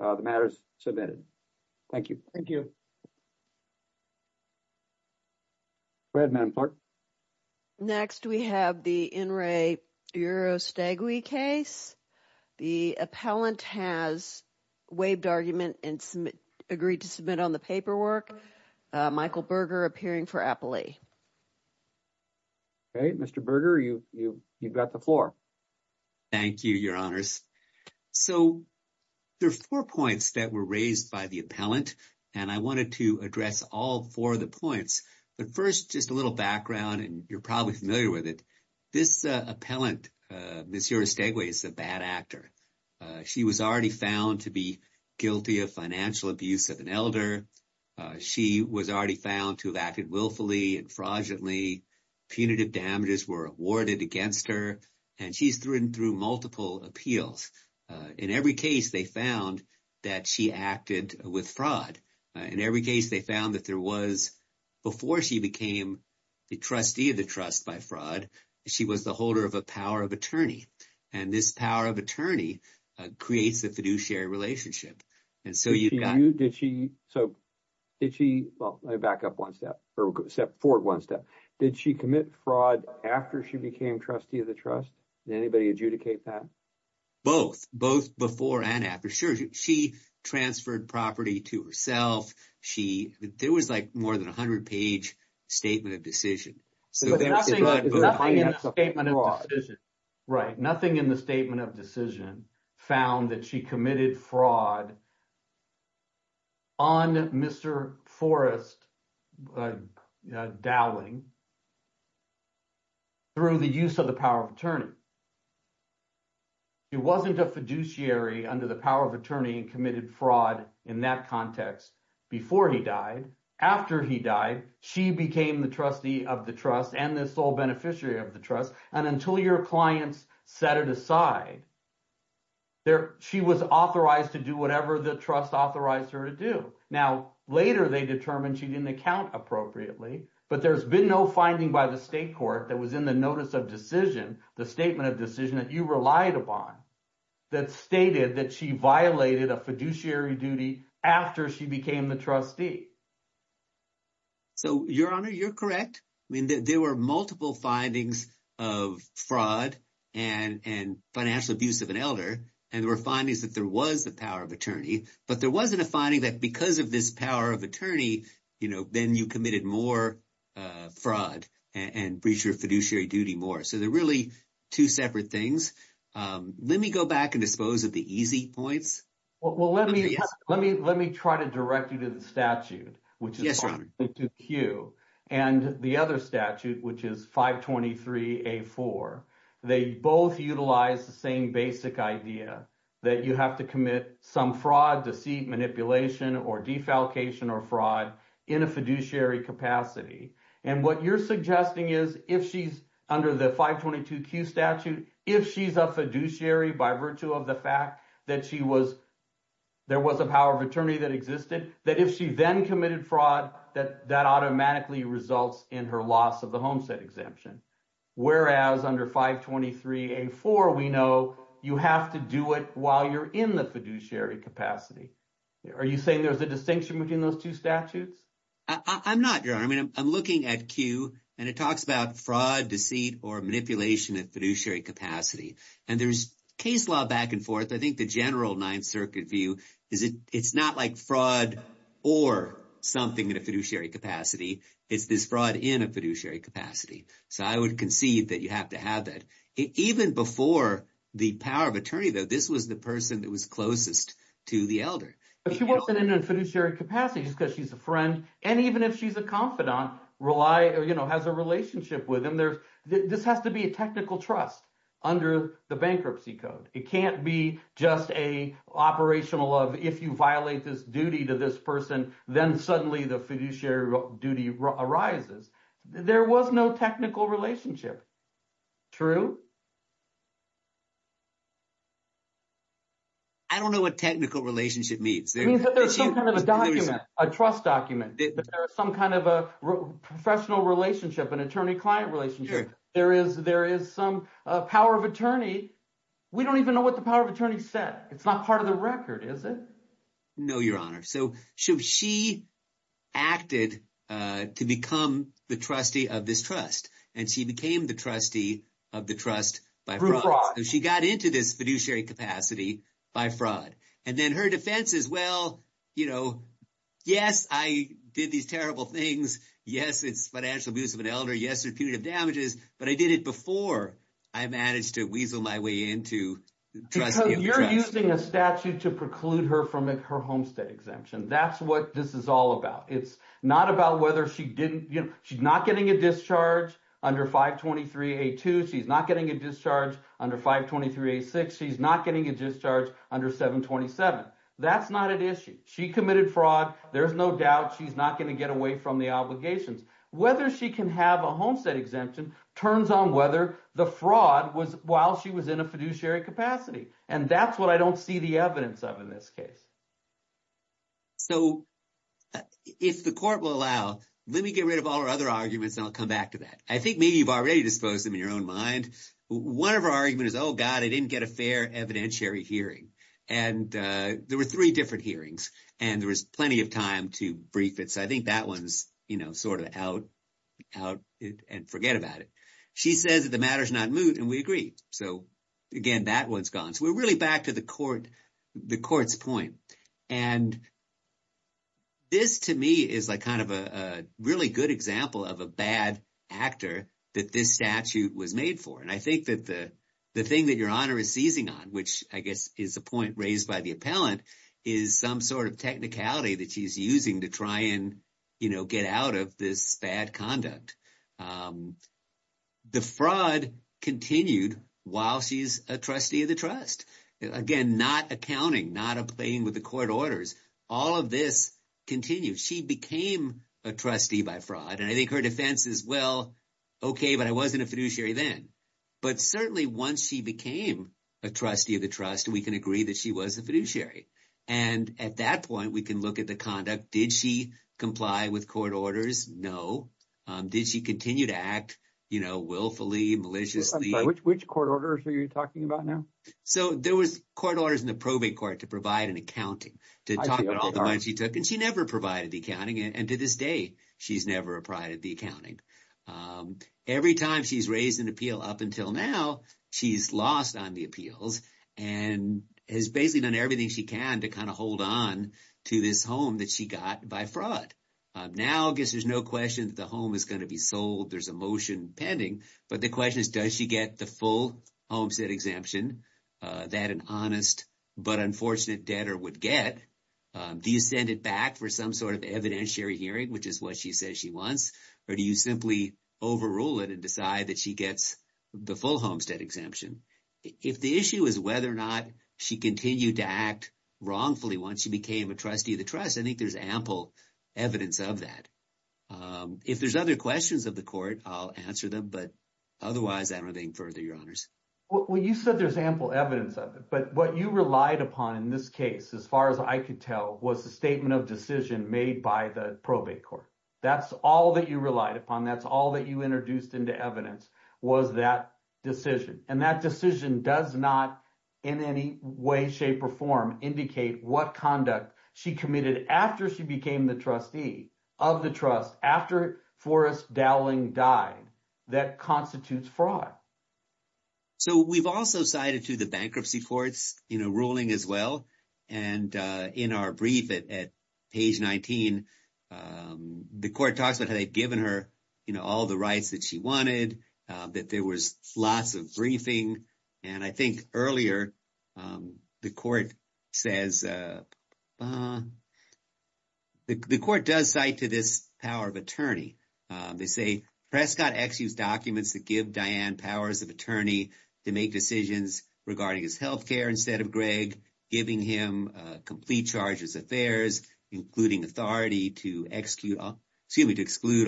Uh, the matter is submitted. Thank you. Thank you. Go ahead, man. Next, we have the in re Uriostegui case. The appellant has waived argument and agreed to submit on the paperwork. Michael Berger appearing for Apply. Hey, Mr. Berger, you, you, you've got the floor. Thank you, your honors. So. There are four points that were raised by the appellant, and I wanted to address all four of the points. But first, just a little background, and you're probably familiar with it. This appellant, Ms. Uriostegui, is a bad actor. She was already found to be guilty of financial abuse of an elder. She was already found to have acted willfully and fraudulently. Punitive damages were awarded against her, and she's written through multiple appeals. In every case, they found that she acted with fraud. In every case, they found that there was, before she became the trustee of the trust by fraud, she was the holder of a power of attorney. And this power of attorney creates the fiduciary relationship. And so you. Did she, so did she, well, let me back up one step, step forward one step. Did she commit fraud after she became trustee of the trust? Did anybody adjudicate that? Both, both before and after. Sure, she transferred property to herself. She, there was like more than 100-page statement of decision. So there was fraud behind that. But nothing in the statement of decision. Right, nothing in the statement of decision found that she committed fraud on Mr. Forrest Dowling through the use of the power of attorney. It wasn't a fiduciary under the power of attorney and committed fraud in that context before he died. After he died, she became the trustee of the trust and this sole beneficiary of the trust. And until your clients set it aside, she was authorized to do whatever the trust authorized her to do. Now, later they determined she didn't account appropriately, but there's been no finding by the state court that was in the notice of decision, the statement of decision that you relied upon that stated that she violated a fiduciary duty after she became the trustee. So, your honor, you're correct. I mean, there were multiple findings of fraud and financial abuse of an elder. And there were findings that there was the power of attorney, but there wasn't a finding that because of this power of attorney, then you committed more fraud and breach your fiduciary duty more. So they're really two separate things. Let me go back and dispose of the easy points. Well, let me try to direct you to the statute, which is 522Q. And the other statute, which is 523A4, they both utilize the same basic idea that you have to commit some fraud, deceit, manipulation, or defalcation or fraud in a fiduciary capacity. And what you're suggesting is if she's under the 522Q statute, if she's a fiduciary by virtue of the fact that she was, there was a power of attorney that existed, that if she then committed fraud, that automatically results in her loss of the homestead exemption. Whereas under 523A4, we know you have to do it while you're in the fiduciary capacity. Are you saying there's a distinction between those two statutes? I'm not, Your Honor. I mean, I'm looking at Q, and it talks about fraud, deceit, or manipulation at fiduciary capacity. And there's case law back and forth. I think the general Ninth Circuit view is it's not like fraud or something in a fiduciary capacity. It's this fraud in a fiduciary capacity. So I would concede that you have to have that. Even before the power of attorney, though, this was the person that was closest to the elder. If she wasn't in a fiduciary capacity, just because she's a friend, and even if she's a confidant, has a relationship with him, this has to be a technical trust under the bankruptcy code. It can't be just an operational of, if you violate this duty to this person, then suddenly the fiduciary duty arises. There was no technical relationship. True? I don't know what technical relationship means. I mean, there's some kind of a document, a trust document. There is some kind of a professional relationship, an attorney-client relationship. There is some power of attorney. We don't even know what the power of attorney said. It's not part of the record, is it? No, Your Honor. So she acted to become the trustee of this trust, and she became the trustee of the trust by fraud. Through fraud. She got into this fiduciary capacity by fraud. Then her defense is, well, yes, I did these terrible things. Yes, it's financial abuse of an elder. Yes, it's punitive damages, but I did it before I managed to weasel my way into trustee of the trust. Because you're using a statute to preclude her from her homestead exemption. That's what this is all about. It's not about whether she didn't... She's not getting a discharge under 523A2. She's not getting a discharge under 523A6. She's not getting a discharge under 727. That's not an issue. She committed fraud. There's no doubt she's not going to get away from the obligations. Whether she can have a homestead exemption turns on whether the fraud was while she was in a fiduciary capacity. And that's what I don't see the evidence of in this case. So if the court will allow, let me get rid of all our other arguments and I'll come back to that. I think maybe you've already disposed them in your own mind. One of our argument is, oh God, I didn't get a fair evidentiary hearing. And there were three different hearings and there was plenty of time to brief it. So I think that one's sort of out and forget about it. She says that the matter's not moot and we agree. So again, that one's gone. We're really back to the court's point. And this to me is kind of a really good example of a bad actor that this statute was made for. And I think that the thing that your honor is seizing on, which I guess is the point raised by the appellant, is some sort of technicality that she's using to try and get out of this bad conduct. The fraud continued while she's a trustee of the trust. Again, not accounting, not playing with the court orders. All of this continued. She became a trustee by fraud. And I think her defense is, well, okay, but I wasn't a fiduciary then. But certainly once she became a trustee of the trust, we can agree that she was a fiduciary. And at that point, we can look at the conduct. Did she comply with court orders? No. Did she continue to act willfully, maliciously? Which court orders are you talking about now? So there was court orders in the probate court to provide an accounting, to talk about all the money she took. And she never provided the accounting. And to this day, she's never provided the accounting. Every time she's raised an appeal up until now, she's lost on the appeals and has basically done everything she can to kind of hold on to this home that she got by fraud. Now, I guess there's no question that the home is going to be sold. There's a motion pending. But the question is, does she get the full homestead exemption that an honest but unfortunate debtor would get? Do you send it back for some sort of evidentiary hearing, which is what she says she wants? Or do you simply overrule it and decide that she gets the full homestead exemption? If the issue is whether or not she continued to act wrongfully once she became a trustee of the trust, I think there's ample evidence of that. If there's other questions of the court, I'll answer them. But otherwise, I'm not going to further your honors. Well, you said there's ample evidence of it. But what you relied upon in this case, as far as I could tell, was the statement of decision made by the probate court. That's all that you relied upon. That's all that you introduced into evidence was that decision. And that decision does not in any way, shape, or form indicate what conduct she committed after she became the trustee of the trust, after Forrest Dowling died, that constitutes fraud. So we've also cited to the bankruptcy courts in a ruling as well. And in our brief at page 19, the court talks about how they've given her all the rights that she wanted, that there was lots of briefing. And I think earlier, the court does cite to this power of attorney. They say Prescott exused documents that give Diane powers of attorney to make decisions regarding his health care instead of Greg, giving him complete charges affairs, including authority to exclude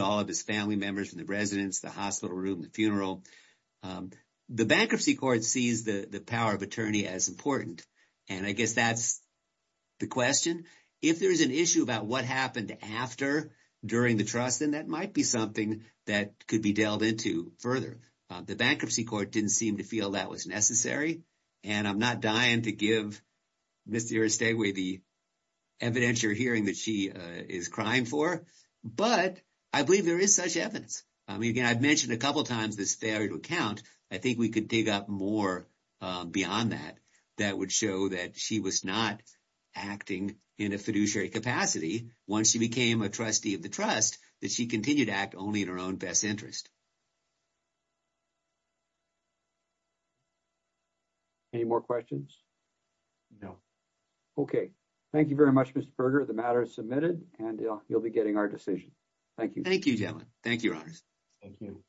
all of his family members from the residence, the hospital room, the funeral. The bankruptcy court sees the power of attorney as important. And I guess that's the question. If there's an issue about what happened after, during the trust, then that might be something that could be delved into further. The bankruptcy court didn't seem to feel that was necessary. And I'm not dying to give Mr. Estegway the evidentiary hearing that she is crying for, but I believe there is such evidence. I mean, again, I've mentioned a couple of times this failure to account. I think we could dig up more beyond that, that would show that she was not acting in a fiduciary capacity once she became a trustee of the trust, that she continued to act only in her own best interest. Any more questions? No. Okay. Thank you very much, Mr. Estegway. The matter is submitted and you'll be getting our decision. Thank you. Thank you.